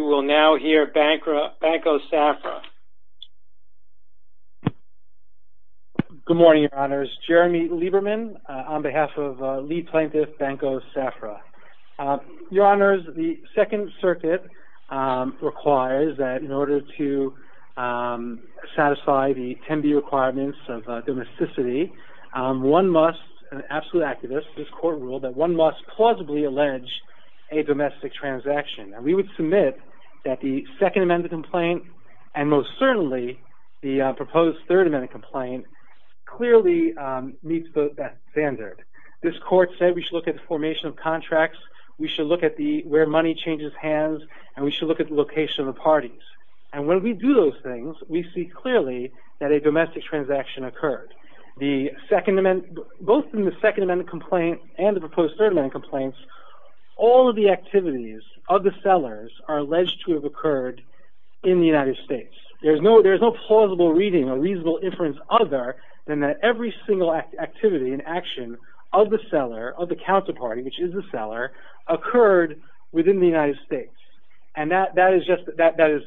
You will now hear Banco Safra. Good morning, Your Honors. Jeremy Lieberman on behalf of lead plaintiff Banco Safra. Your Honors, the Second Circuit requires that in order to satisfy the 10-B requirements of domesticity, one must, an absolute activist, this court ruled that one must plausibly allege a domestic transaction. And we would submit that the Second Amendment complaint and most certainly the proposed Third Amendment complaint clearly meets that standard. This court said we should look at the formation of contracts, we should look at where money changes hands, and we should look at the location of the parties. And when we do those things, we see clearly that a domestic transaction occurred. The Second Amendment, both in the Second Amendment complaint and the proposed Third Amendment complaint, all of the activities of the sellers are alleged to have occurred in the United States. There is no plausible reading, a reasonable inference other than that every single activity and action of the seller, of the counterparty, which is the seller, occurred within the United States. And that is just, that is,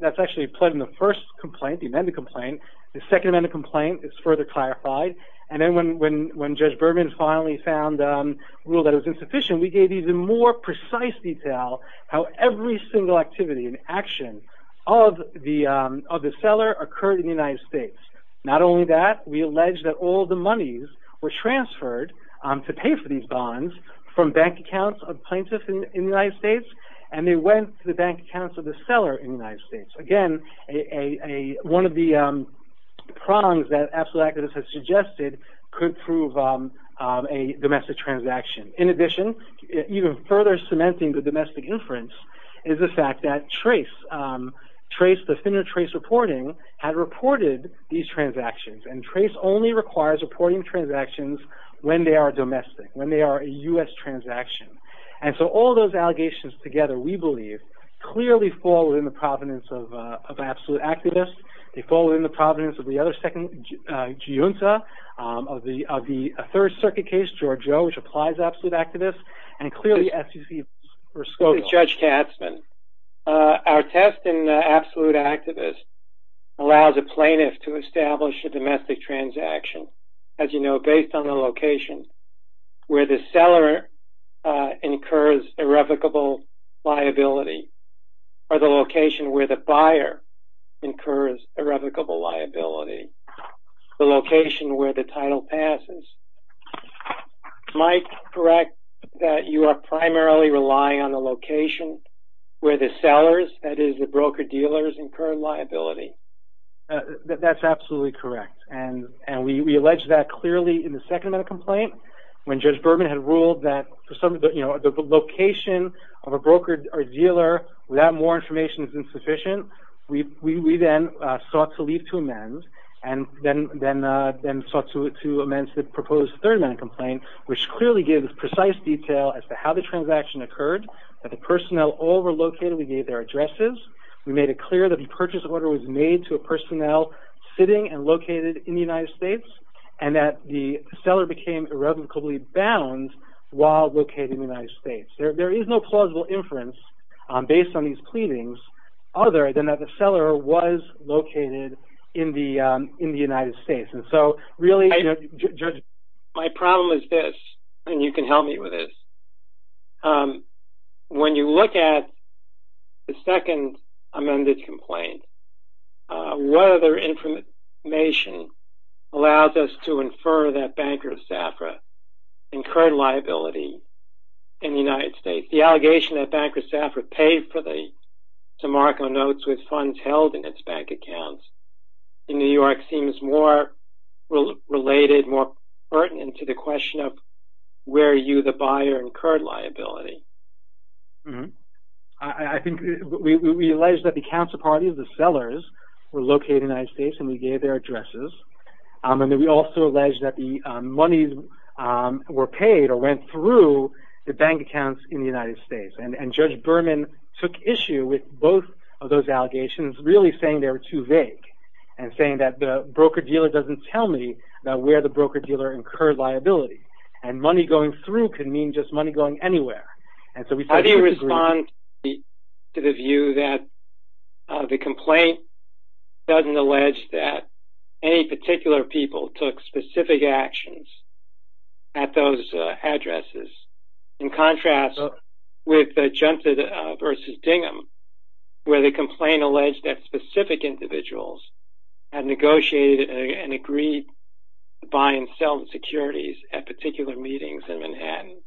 that's actually pled in the First Complaint, the Amendment complaint. The Second Amendment complaint is further clarified. And then when Judge Berman finally found a rule that was insufficient, we gave even more precise detail how every single activity and action of the seller occurred in the United States. Not only that, we allege that all the monies were transferred to pay for these bonds from bank accounts of plaintiffs in the United States, and they went to the bank accounts of the seller in the United States. Again, one of the prongs that absolute accuracy has suggested could prove a domestic transaction. In addition, even further cementing the domestic inference is the fact that TRACE, the Finner TRACE reporting, had reported these transactions. And TRACE only requires reporting transactions when they are domestic, when they are a U.S. transaction. And so all those allegations together, we believe, clearly fall within the provenance of absolute activists. They fall within the provenance of the other second, Giunta, of the Third Circuit case, Giorgio, which applies absolute activists. And clearly SEC... This is Judge Katzmann. Our test in absolute activists allows a plaintiff to establish a domestic transaction, as you know, based on the location where the seller incurs irrevocable liability, or the location where the buyer incurs irrevocable liability, the location where the title passes. Am I correct that you are primarily relying on the location where the sellers, that is, the broker-dealers, incur liability? That's absolutely correct. And we allege that clearly in the second amount of complaint, when Judge Berman had ruled that the location of a broker or dealer without more information is insufficient. We then sought to leave to amend, and then sought to amend the proposed third amount of complaint, which clearly gave precise detail as to how the transaction occurred, that the personnel all were located, we gave their addresses, we made it clear that the purchase order was made to a personnel sitting and located in the United States, and that the seller became irrevocably bound while located in the United States. There is no plausible inference based on these pleadings, other than that the seller was located in the United States. And so, really, Judge... My problem is this, and you can help me with this. When you look at the second amended complaint, what other information allows us to infer that Banker of Saffra incurred liability in the United States? The allegation that Banker of Saffra paid for the DeMarco notes with funds held in its bank accounts in New York seems more related, more pertinent to the question of where you, the buyer, incurred liability. I think we alleged that the council parties, the sellers, were located in the United States and we gave their addresses, and then we also alleged that the monies were paid or went through the bank accounts in the United States, and Judge Berman took issue with both of those allegations, really saying they were too vague, and saying that the broker-dealer doesn't tell me that where the broker-dealer incurred liability, and money going through could mean just money going anywhere. And so, we said... How do you respond to the view that the complaint doesn't allege that any particular people took specific actions at those addresses, in contrast with the Junta v. Dingham, where the complaint alleged that specific individuals had negotiated and agreed to buy and sell the securities at particular meetings in Manhattan?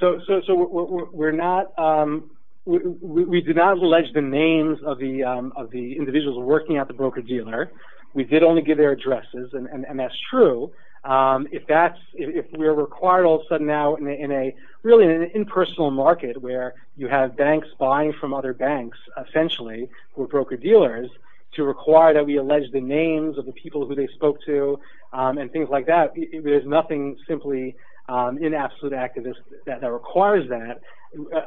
So we're not... We did not allege the names of the individuals working at the broker-dealer. We did only give their addresses, and that's true. If that's... If we're required all of a sudden now in a really impersonal market where you have banks buying from other banks, essentially, who are broker-dealers, to require that we allege the names of the people who they spoke to, and things like that, there's nothing simply in absolute activism that requires that.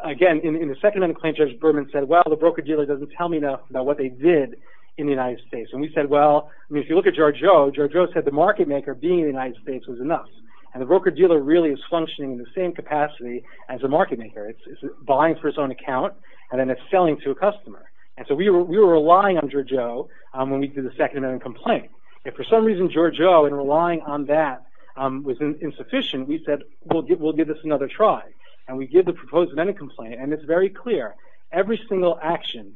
Again, in the second complaint, Judge Berman said, well, the broker-dealer doesn't tell me enough about what they did in the United States. And we said, well... I mean, if you look at Georgiou, Georgiou said the market-maker being in the United States was enough. And the broker-dealer really is functioning in the same capacity as the market-maker. It's buying for its own account, and then it's selling to a customer. And so we were relying on Georgiou when we did the second amendment complaint. If for some reason Georgiou, in relying on that, was insufficient, we said, we'll give this another try. And we did the proposed amendment complaint, and it's very clear. Every single action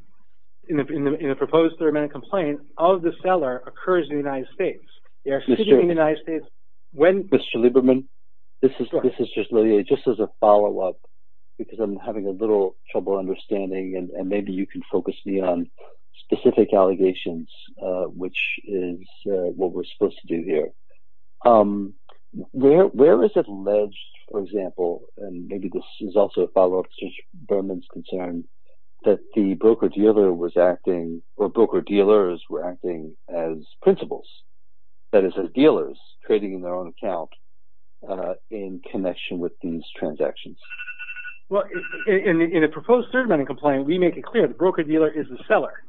in a proposed third amendment complaint of the seller occurs in the United States. They are sitting in the United States when... This is just really just as a follow-up, because I'm having a little trouble understanding, and maybe you can focus me on specific allegations, which is what we're supposed to do here. Where is alleged, for example, and maybe this is also a follow-up to Judge Berman's concern, that the broker-dealer was acting, or broker-dealers were acting as principals, that is, as dealers trading in their own account in connection with these transactions? Well, in a proposed third amendment complaint, we make it clear the broker-dealer is the seller.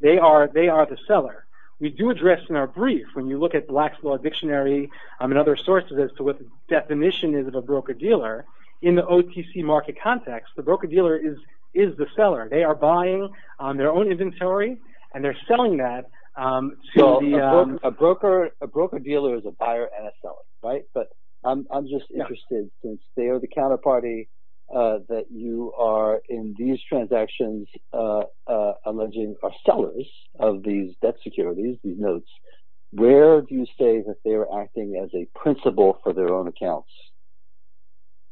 They are the seller. We do address in our brief, when you look at Black's Law Dictionary and other sources as to what the definition is of a broker-dealer, in the OTC market context, the broker-dealer is the seller. They are buying on their own inventory, and they're selling that to the... A broker-dealer is a buyer and a seller, right? But I'm just interested, since they are the counterparty that you are, in these transactions, alleging are sellers of these debt securities, these notes, where do you say that they are acting as a principal for their own accounts?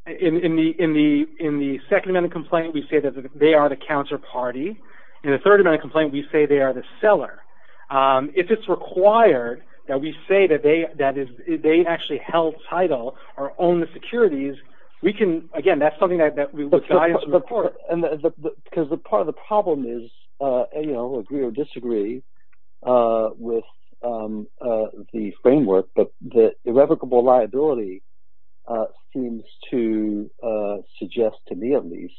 In the second amendment complaint, we say that they are the counterparty. In the third amendment complaint, we say they are the seller. If it's required that we say that they actually held title or own the securities, we can... Again, that's something that we would try and support. Because part of the problem is, you know, agree or disagree with the framework, but the irrevocable liability seems to suggest, to me at least,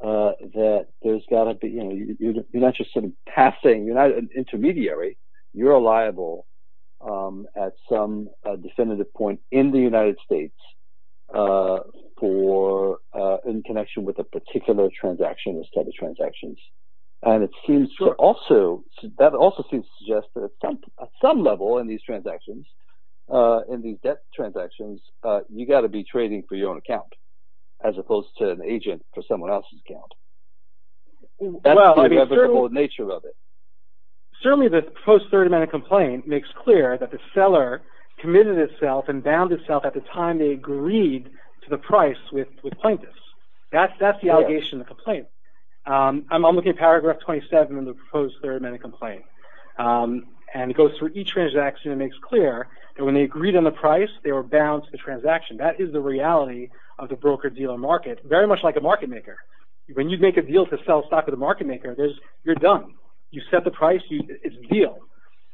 that there's got to be... If you're a liability, you're not an intermediary, you're a liable at some definitive point in the United States in connection with a particular transaction, a set of transactions. And it seems to also... That also seems to suggest that at some level in these transactions, in these debt transactions, you got to be trading for your own account, as opposed to an agent for someone else's account. That's the irrevocable nature of it. Certainly, the proposed third amendment complaint makes clear that the seller committed itself and bound itself at the time they agreed to the price with plaintiffs. That's the allegation in the complaint. I'm looking at paragraph 27 in the proposed third amendment complaint. And it goes through each transaction and makes clear that when they agreed on the price, they were bound to the transaction. That is the reality of the broker-dealer market, very much like a market maker. When you make a deal to sell stock to the market maker, you're done. You set the price, it's a deal.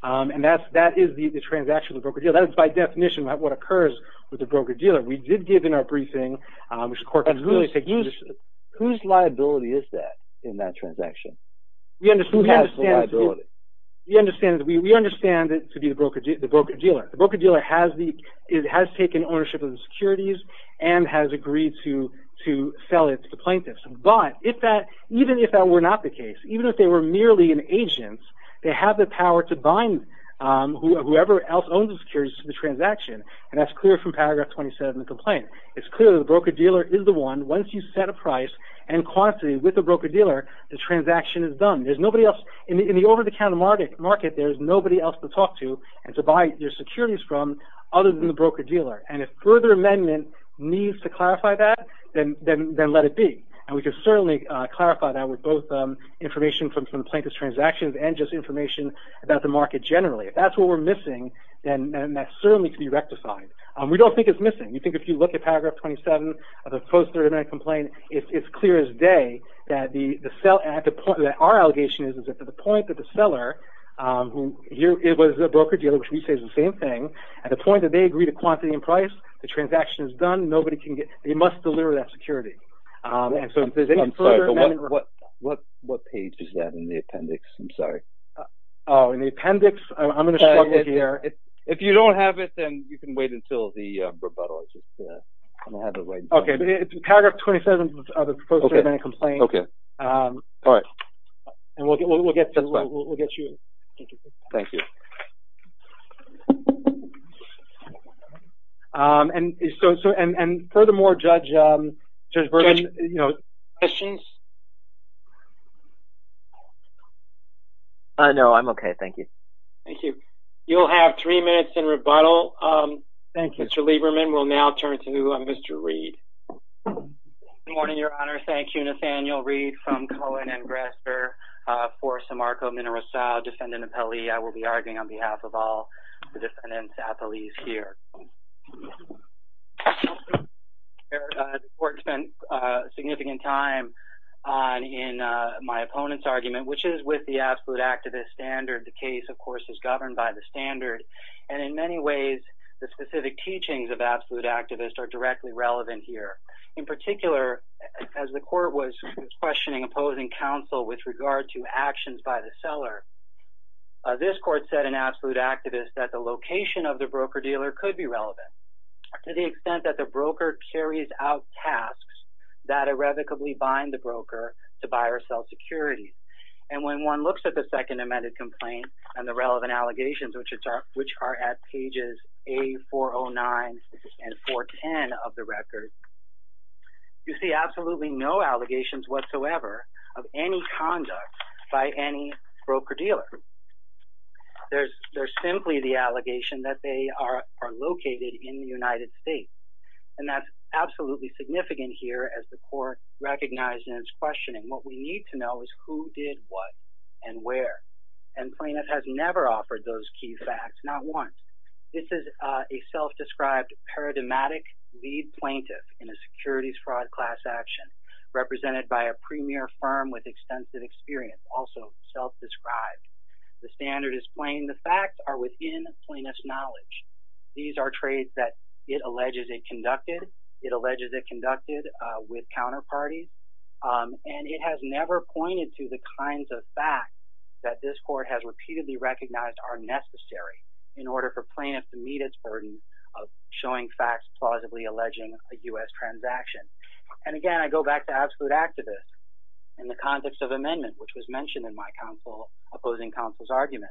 And that is the transaction of the broker-dealer. That is by definition what occurs with the broker-dealer. We did give in our briefing, which the court can really take notice of. Whose liability is that in that transaction? Who has the liability? We understand it to be the broker-dealer. The broker-dealer has taken ownership of the securities and has agreed to sell it to the plaintiffs. But even if that were not the case, even if they were merely an agent, they have the power to bind whoever else owns the securities to the transaction. And that's clear from paragraph 27 of the complaint. It's clear that the broker-dealer is the one. Once you set a price and quantity with the broker-dealer, the transaction is done. There's nobody else. In the over-the-counter market, there's nobody else to talk to and to buy your securities from other than the broker-dealer. And if further amendment needs to clarify that, then let it be. And we can certainly clarify that with both information from plaintiff's transactions and just information about the market generally. If that's what we're missing, then that certainly can be rectified. We don't think it's missing. We think if you look at paragraph 27 of the post-30 minute complaint, it's clear as day that our allegation is that to the point that the seller, it was the broker-dealer, which we say is the same thing, at the point that they agree to quantity and price, the transaction is done. Nobody can get... They must deliver that security. And so if there's any further amendment... I'm sorry. But what page is that in the appendix? I'm sorry. Oh, in the appendix? I'm going to struggle here. If you don't have it, then you can wait until the rebuttal. I just don't have it right now. Okay. It's in paragraph 27 of the post-30 minute complaint. Okay. All right. And we'll get you... That's fine. Thank you. Thank you. And furthermore, Judge Bergman... Questions? I'm okay. Thank you. Thank you. You'll have three minutes in rebuttal. Thank you. Thank you. Thank you. Thank you. Thank you. Thank you. Thank you. Thank you. Good morning, Your Honor. Thank you. Nathaniel Reed from Cohen and Grasser for Simarco Mineral Style Defendant Appellee. I will be arguing on behalf of all the defendants' appellees here. The court spent significant time in my opponent's argument, which is with the absolute activist standard. The case, of course, is governed by the standard. And in many ways, the specific teachings of absolute activist are directly relevant here. In particular, as the court was questioning opposing counsel with regard to actions by the seller, this court said in absolute activist that the location of the broker-dealer could be relevant to the extent that the broker carries out tasks that irrevocably bind the broker to buy or sell securities. And when one looks at the second amended complaint and the relevant allegations, which are at pages A409 and 410 of the record, you see absolutely no allegations whatsoever of any conduct by any broker-dealer. There's simply the allegation that they are located in the United States. And that's absolutely significant here as the court recognized in its questioning. What we need to know is who did what and where. And plaintiff has never offered those key facts. Not once. This is a self-described paradigmatic lead plaintiff in a securities fraud class action represented by a premier firm with extensive experience, also self-described. The standard is plain. The facts are within plaintiff's knowledge. These are trades that it alleges it conducted. It alleges it conducted with counterparties. And it has never pointed to the kinds of facts that this court has repeatedly recognized are necessary in order for plaintiff to meet its burden of showing facts plausibly alleging a U.S. transaction. And again, I go back to absolute activist in the context of amendment, which was mentioned in my opposing counsel's argument.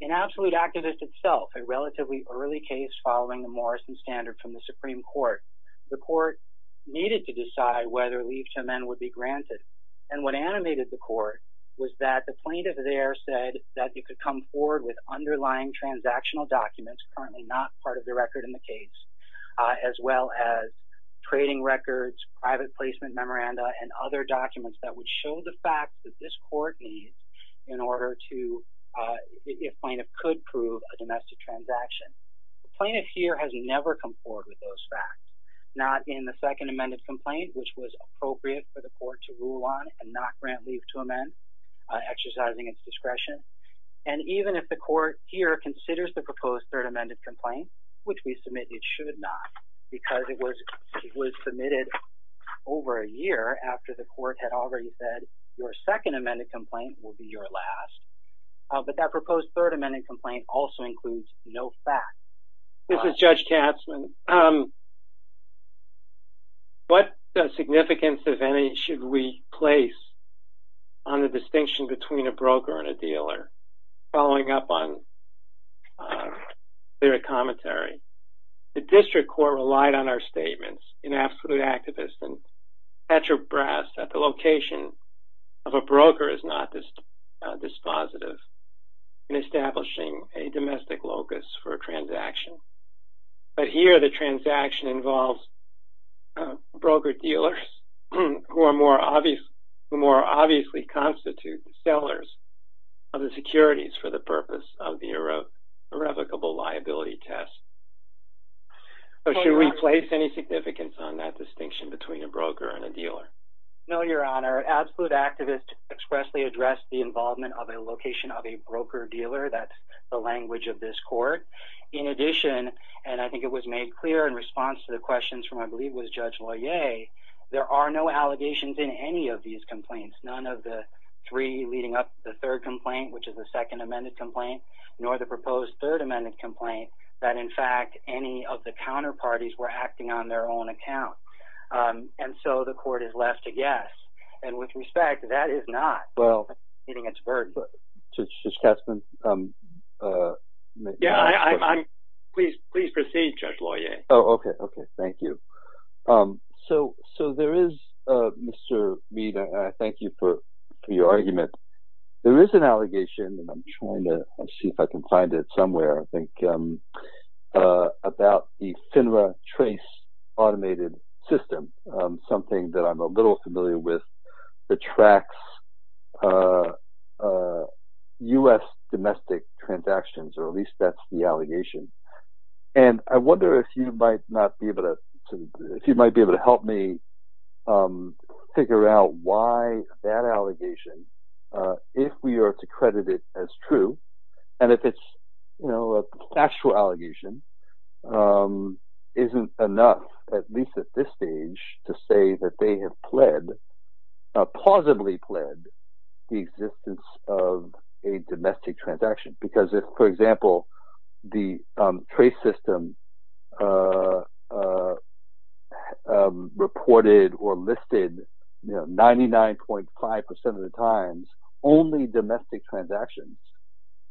In absolute activist itself, a relatively early case following the Morrison standard from the Supreme Court, the court needed to decide whether leave to amend would be granted. And what animated the court was that the plaintiff there said that you could come forward with underlying transactional documents, currently not part of the record in the case, as well as trading records, private placement memoranda, and other documents that would show the facts that this court needs in order to, if plaintiff could prove a domestic transaction. The plaintiff here has never come forward with those facts. Not in the second amended complaint, which was appropriate for the court to rule on and not grant leave to amend, exercising its discretion. And even if the court here considers the proposed third amended complaint, which we submitted should not, because it was submitted over a year after the court had already said your second amended complaint will be your last. But that proposed third amended complaint also includes no facts. This is Judge Katzmann. What significance, if any, should we place on the distinction between a broker and a dealer? Following up on the commentary, the district court relied on our statements in absolute activist and Petrobras that the location of a broker is not dispositive in establishing a domestic locus for a transaction. But here the transaction involves broker-dealers, who are more obviously constitute sellers of the securities for the purpose of the irrevocable liability test. So should we place any significance on that distinction between a broker and a dealer? No, Your Honor. Absolute activist expressly addressed the involvement of a location of a broker-dealer. That's the language of this court. In addition, and I think it was made clear in response to the questions from, I believe, Judge Loyer, there are no allegations in any of these complaints. None of the three leading up to the third complaint, which is the second amended complaint, nor the proposed third amended complaint that, in fact, any of the counterparties were acting on their own account. And so the court has left a guess. And with respect, that is not meeting its burden. Judge Katzmann? Please proceed, Judge Loyer. Okay, thank you. So there is, Mr. Mead, and I thank you for your argument. There is an allegation, and I'm trying to see if I can find it somewhere, I think, about the FINRA trace automated system, something that I'm a little familiar with that tracks U.S. domestic transactions, or at least that's the allegation. And I wonder if you might not be able to, if you might be able to help me figure out why that allegation, if we are to credit it as true, and if it's, you know, a factual allegation, isn't enough, at least at this stage, to say that they have pled, plausibly pled, the existence of a domestic transaction. Because if, for example, the trace system reported or listed 99.5% of the times only domestic transactions,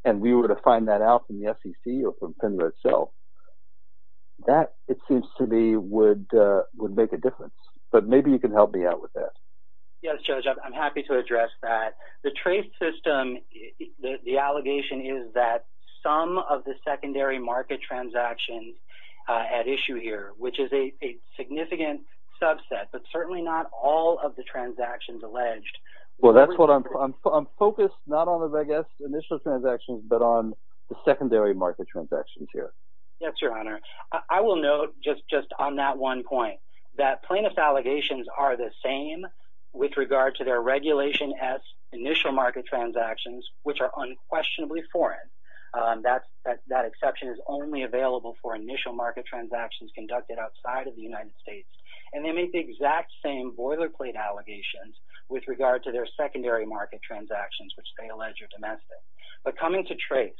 and we were to find that out from the FCC or from FINRA itself, that, it seems to me, would make a difference. But maybe you can help me out with that. Yes, Judge, I'm happy to address that. The trace system, the allegation is that some of the secondary market transactions at issue here, which is a significant subset, but certainly not all of the transactions alleged. Well, that's what I'm, I'm focused not on, I guess, initial transactions, but on the secondary market transactions here. Yes, Your Honor. I will note, just on that one point, that plaintiff's allegations are the same with regard to their regulation as initial market transactions, which are unquestionably foreign. That exception is only available for initial market transactions conducted outside of the United States. And they make the exact same boilerplate allegations with regard to their secondary market transactions, which they allege are domestic. But coming to trace,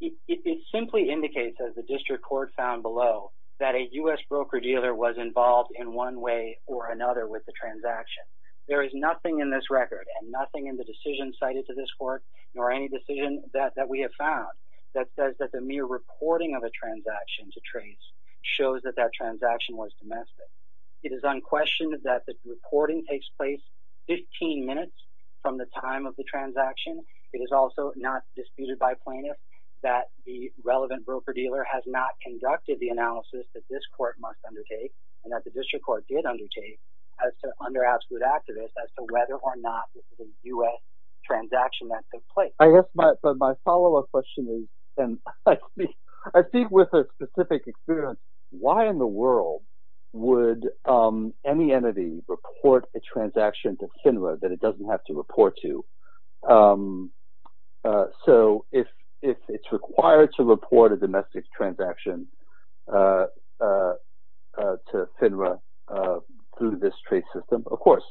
it simply indicates, as the district court found below, that a U.S. broker-dealer was involved in one way or another with the transaction. There is nothing in this record, and nothing in the decision cited to this court, nor any decision that we have found, that says that the mere reporting of a transaction to trace shows that that transaction was domestic. It is unquestioned that the reporting takes place 15 minutes from the time of the transaction. It is also not disputed by plaintiffs that the relevant broker-dealer has not conducted the analysis that this court must undertake, and that the district court did undertake, as to under-outstood activists, as to whether or not this is a U.S. transaction that took place. I guess my follow-up question is, and I speak with a specific experience, why in the world would any entity report a transaction to FINRA that it doesn't have to report to? So, if it's required to report a domestic transaction to FINRA through this trace system, of course,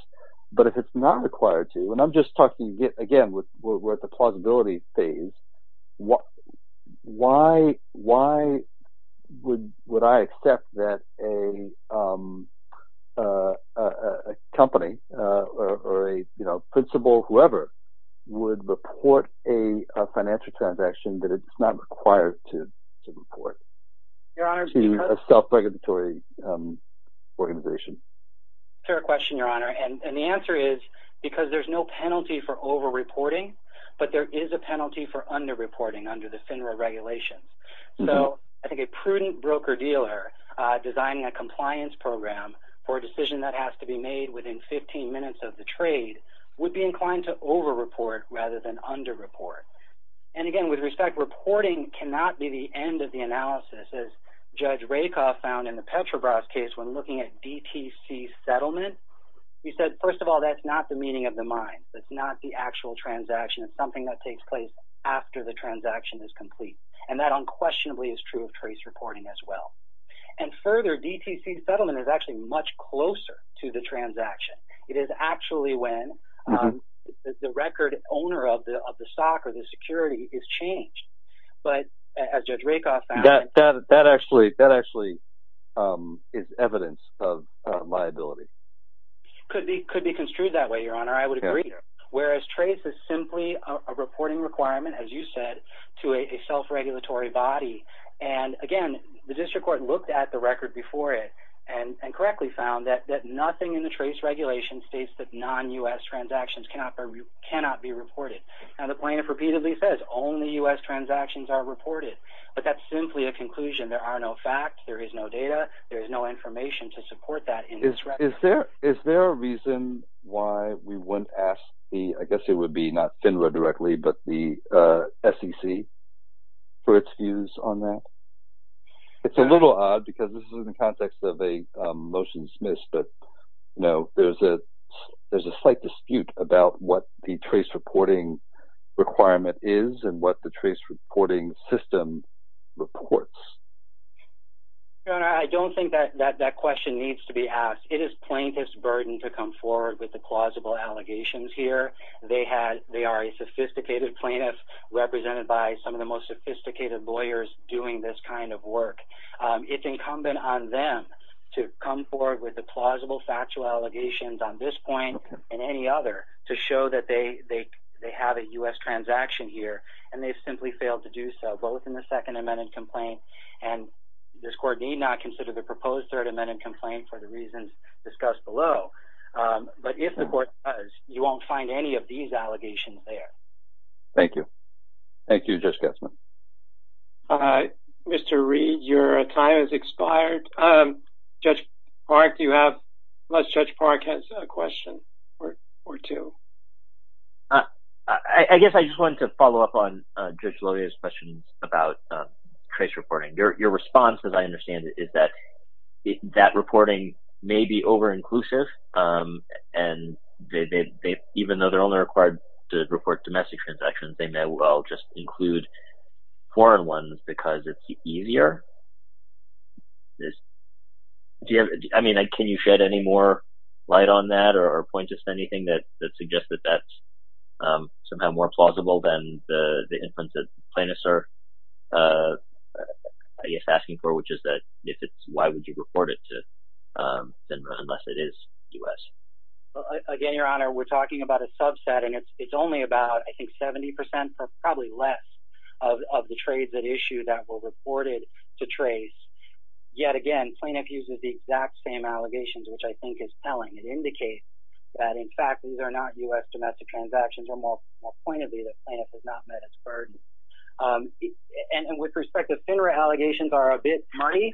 but if it's not required to, and I'm just talking, again, we're at the plausibility phase, why would I accept that a company, or a principal, whoever, would report a financial transaction that it's not required to report to a self-regulatory organization? Fair question, Your Honor, and the answer is because there's no penalty for over-reporting, but there is a penalty for under-reporting under the FINRA regulations. So, I think a prudent broker-dealer designing a compliance program for a decision that has to be made within 15 minutes of the trade would be inclined to over-report rather than under-report. And again, with respect, reporting cannot be the end of the analysis, as Judge Rakoff found in the Petrobras case when looking at DTC settlement. He said, first of all, that's not the meaning of the mine. That's not the actual transaction. It's something that takes place after the transaction is complete, and that unquestionably is true of trace reporting as well. And further, DTC settlement is actually much closer to the transaction. It is actually when the record owner of the stock or the security is changed. But as Judge Rakoff found... That actually is evidence of liability. Could be construed that way, Your Honor. I would agree. Whereas trace is simply a reporting requirement, as you said, to a self-regulatory body. And again, the district court looked at the record before it and correctly found that nothing in the trace regulation states that non-U.S. transactions cannot be reported. And the plaintiff repeatedly says, only U.S. transactions are reported. But that's simply a conclusion. There are no facts. There is no data. There is no information to support that in this record. Is there a reason why we wouldn't ask the... I guess it would be not FINRA directly, but the SEC for its views on that? It's a little odd because this is in the context of a motion dismissed, but there's a slight dispute about what the trace reporting requirement is and what the trace reporting system reports. Your Honor, I don't think that question needs to be asked. It is plaintiff's burden to come forward with the plausible allegations here. They are a sophisticated plaintiff, represented by some of the most sophisticated lawyers doing this kind of work. It's incumbent on them to come forward with the plausible factual allegations on this point and any other to show that they have a U.S. transaction here. And they've simply failed to do so, both in the second amended complaint and this court need not consider the proposed third amended complaint for the reasons discussed below. But if the court does, you won't find any of these allegations there. Thank you. Thank you, Judge Gatzman. Mr. Reed, your time has expired. Judge Park, do you have... Unless Judge Park has a question or two. I guess I just wanted to follow up on Judge Loya's question about trace reporting. Your response, as I understand it, is that reporting may be over-inclusive and even though they're only required to report domestic transactions, they may well just include foreign ones because it's easier. I mean, can you shed any more light on that or point us to anything that suggests that that's somehow more plausible than the influence that plaintiffs are asking for, which is that why would you report it to FINRA unless it is U.S.? Again, Your Honor, we're talking about a subset and it's only about, I think, 70% or probably less of the trades at issue that were reported to trace. Yet again, plaintiff uses the exact same allegations, which I think is telling. It indicates that, in fact, these are not U.S. domestic transactions or more pointedly that plaintiff has not met its burden. And with respect to FINRA, allegations are a bit muddy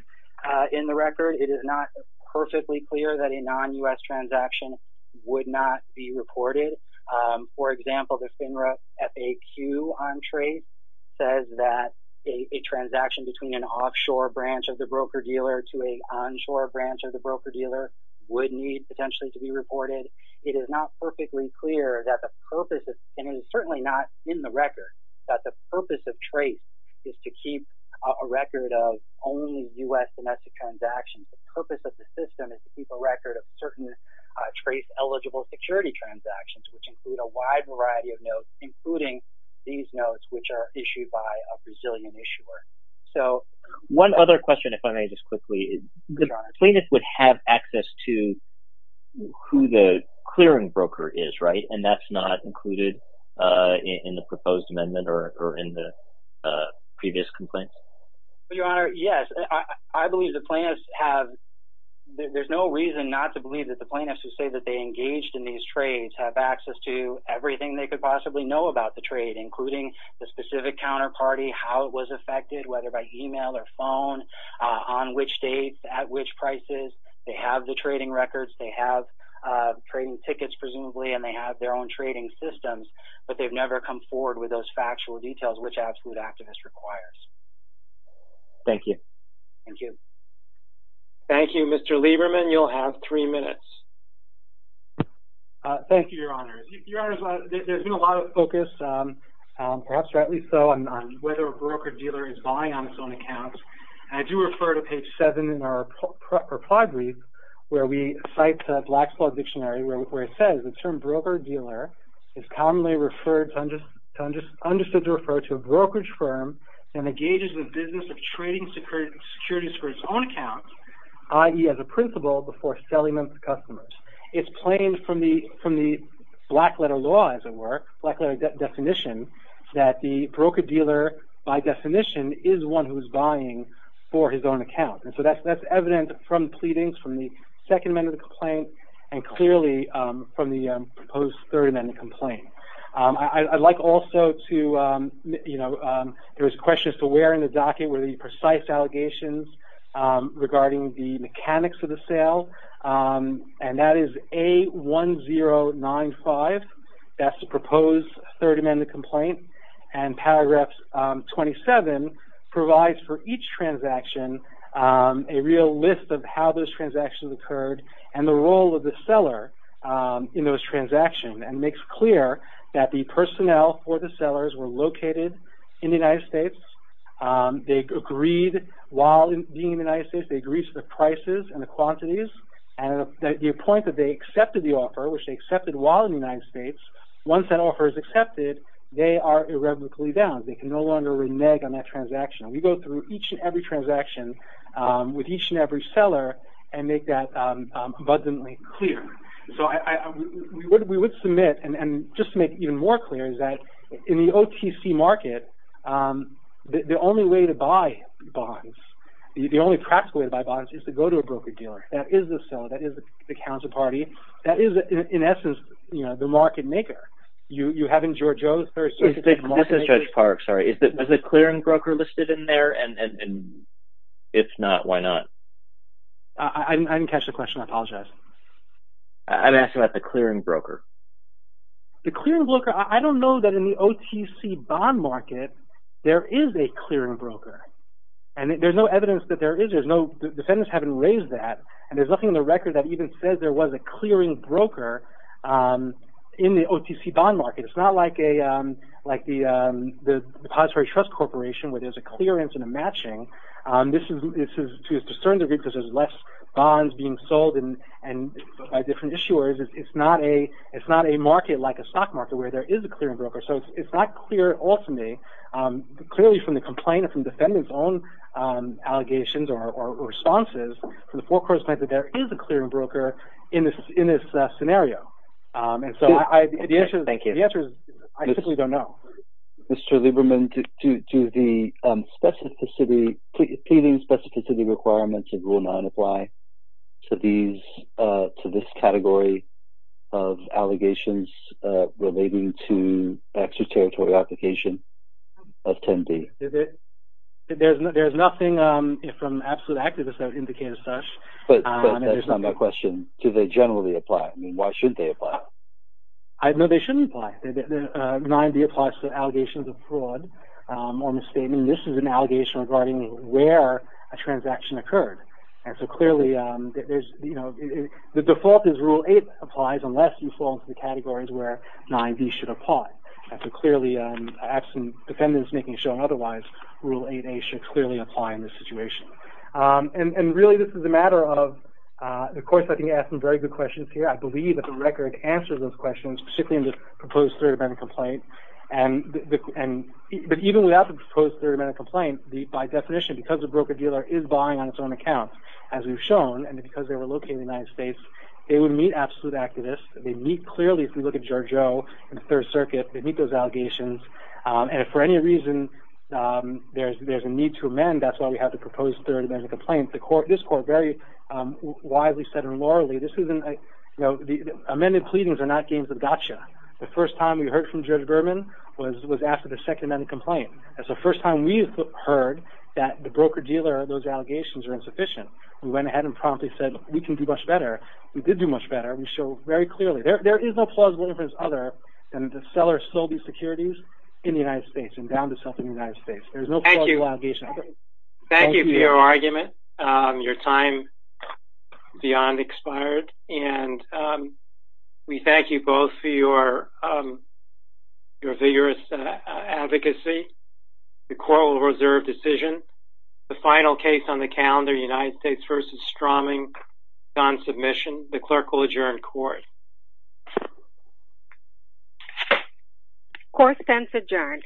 in the record. It is not perfectly clear that a non-U.S. transaction would not be reported. For example, the FINRA FAQ on trace says that a transaction between an offshore branch of the broker-dealer to an onshore branch of the broker-dealer would need potentially to be reported. It is not perfectly clear that the purpose is, and it is certainly not in the record, that the purpose of trace is to keep a record of only U.S. domestic transactions. The purpose of the system is to keep a record of certain trace-eligible security transactions, which include a wide variety of notes, including these notes, which are issued by a Brazilian issuer. One other question, if I may just quickly. The plaintiff would have access to who the clearing broker is, right? And that's not included in the proposed amendment or in the previous complaint? Your Honor, yes. I believe the plaintiffs have... There's no reason not to believe that the plaintiffs who say that they engaged in these trades have access to everything they could possibly know about the trade, including the specific counterparty, how it was affected, whether by email or phone, on which date, at which prices. They have the trading records. They have trading tickets, presumably, and they have their own trading systems, but they've never come forward with those factual details, which Absolute Activist requires. Thank you. Thank you. Thank you, Mr. Lieberman. You'll have three minutes. Thank you, Your Honor. Your Honor, there's been a lot of focus, perhaps rightly so, on whether a broker-dealer is buying on its own accounts. And I do refer to page 7 in our reply brief, where we cite the Blackflaw Dictionary, where it says, the term broker-dealer is commonly understood to refer to a brokerage firm that engages in business of trading securities for its own accounts, i.e., as a principal, before selling them to customers. It's plain from the black-letter law, as it were, black-letter definition, that the broker-dealer, by definition, is one who is buying for his own account. And so that's evident from pleadings, from the Second Amendment complaint, and clearly from the proposed Third Amendment complaint. I'd like also to, you know, there was a question as to where in the docket were the precise allegations regarding the mechanics of the sale, and that is A1095, that's the proposed Third Amendment complaint, and paragraph 27 provides for each transaction a real list of how those transactions occurred, and the role of the seller in those transactions, and makes clear that the personnel for the sellers were located in the United States. They agreed, while being in the United States, they agreed to the prices and the quantities, and the point that they accepted the offer, which they accepted while in the United States, once that offer is accepted, they are irrevocably bound. They can no longer renege on that transaction. We go through each and every transaction with each and every seller, and make that abundantly clear. So we would submit, and just to make it even more clear, is that in the OTC market, the only way to buy bonds, the only practical way to buy bonds is to go to a broker dealer, that is the seller, that is the counterparty, that is in essence, you know, the market maker. You have in George O's Third Circuit... This is Judge Park, sorry. Is the clearing broker listed in there, and if not, why not? I didn't catch the question, I apologize. I'm asking about the clearing broker. The clearing broker, I don't know that in the OTC bond market, there is a clearing broker. And there's no evidence that there is. The defendants haven't raised that. And there's nothing in the record that even says there was a clearing broker in the OTC bond market. It's not like the depository trust corporation, where there's a clearance and a matching. To a certain degree, because there's less bonds being sold by different issuers, it's not a market like a stock market, where there is a clearing broker. So it's not clear ultimately. Clearly from the complaint, from defendants' own allegations or responses, from the forecourt's point of view, there is a clearing broker in this scenario. And so the answer is, I simply don't know. Mr. Lieberman, do the pleading specificity requirements in Rule 9 apply to this category of allegations relating to extraterritorial application? Of 10D. There's nothing from absolute activists that would indicate as such. But that's not my question. Do they generally apply? I mean, why shouldn't they apply? No, they shouldn't apply. 9D applies to allegations of fraud or misstatement. This is an allegation regarding where a transaction occurred. And so clearly, the default is Rule 8 applies, unless you fall into the categories where 9D should apply. And so clearly, absent defendants making a showing otherwise, Rule 8A should clearly apply in this situation. And really, this is a matter of... Of course, I can ask some very good questions here. I believe that the record answers those questions, particularly in this proposed third-amendment complaint. But even without the proposed third-amendment complaint, by definition, because the broker-dealer is buying on its own account, as we've shown, and because they were located in the United States, they would meet absolute activists. They meet clearly, if we look at Judge O in the Third Circuit, they meet those allegations. And if for any reason there's a need to amend, that's why we have the proposed third-amendment complaint. This Court very widely said, and lorally, this isn't... Amended pleadings are not games of gotcha. The first time we heard from Judge Berman was after the second-amendment complaint. That's the first time we've heard that the broker-dealer, those allegations are insufficient. We went ahead and promptly said, we can do much better. We did do much better. We showed very clearly, there is no plausible difference other than the seller sold the securities in the United States and bound itself in the United States. There's no plausible allegation. Thank you for your argument. Your time beyond expired. And we thank you both for your vigorous advocacy. The Court will reserve decision. The final case on the calendar, United States v. Stroming, is on submission. The Clerk will adjourn Court. Court is adjourned.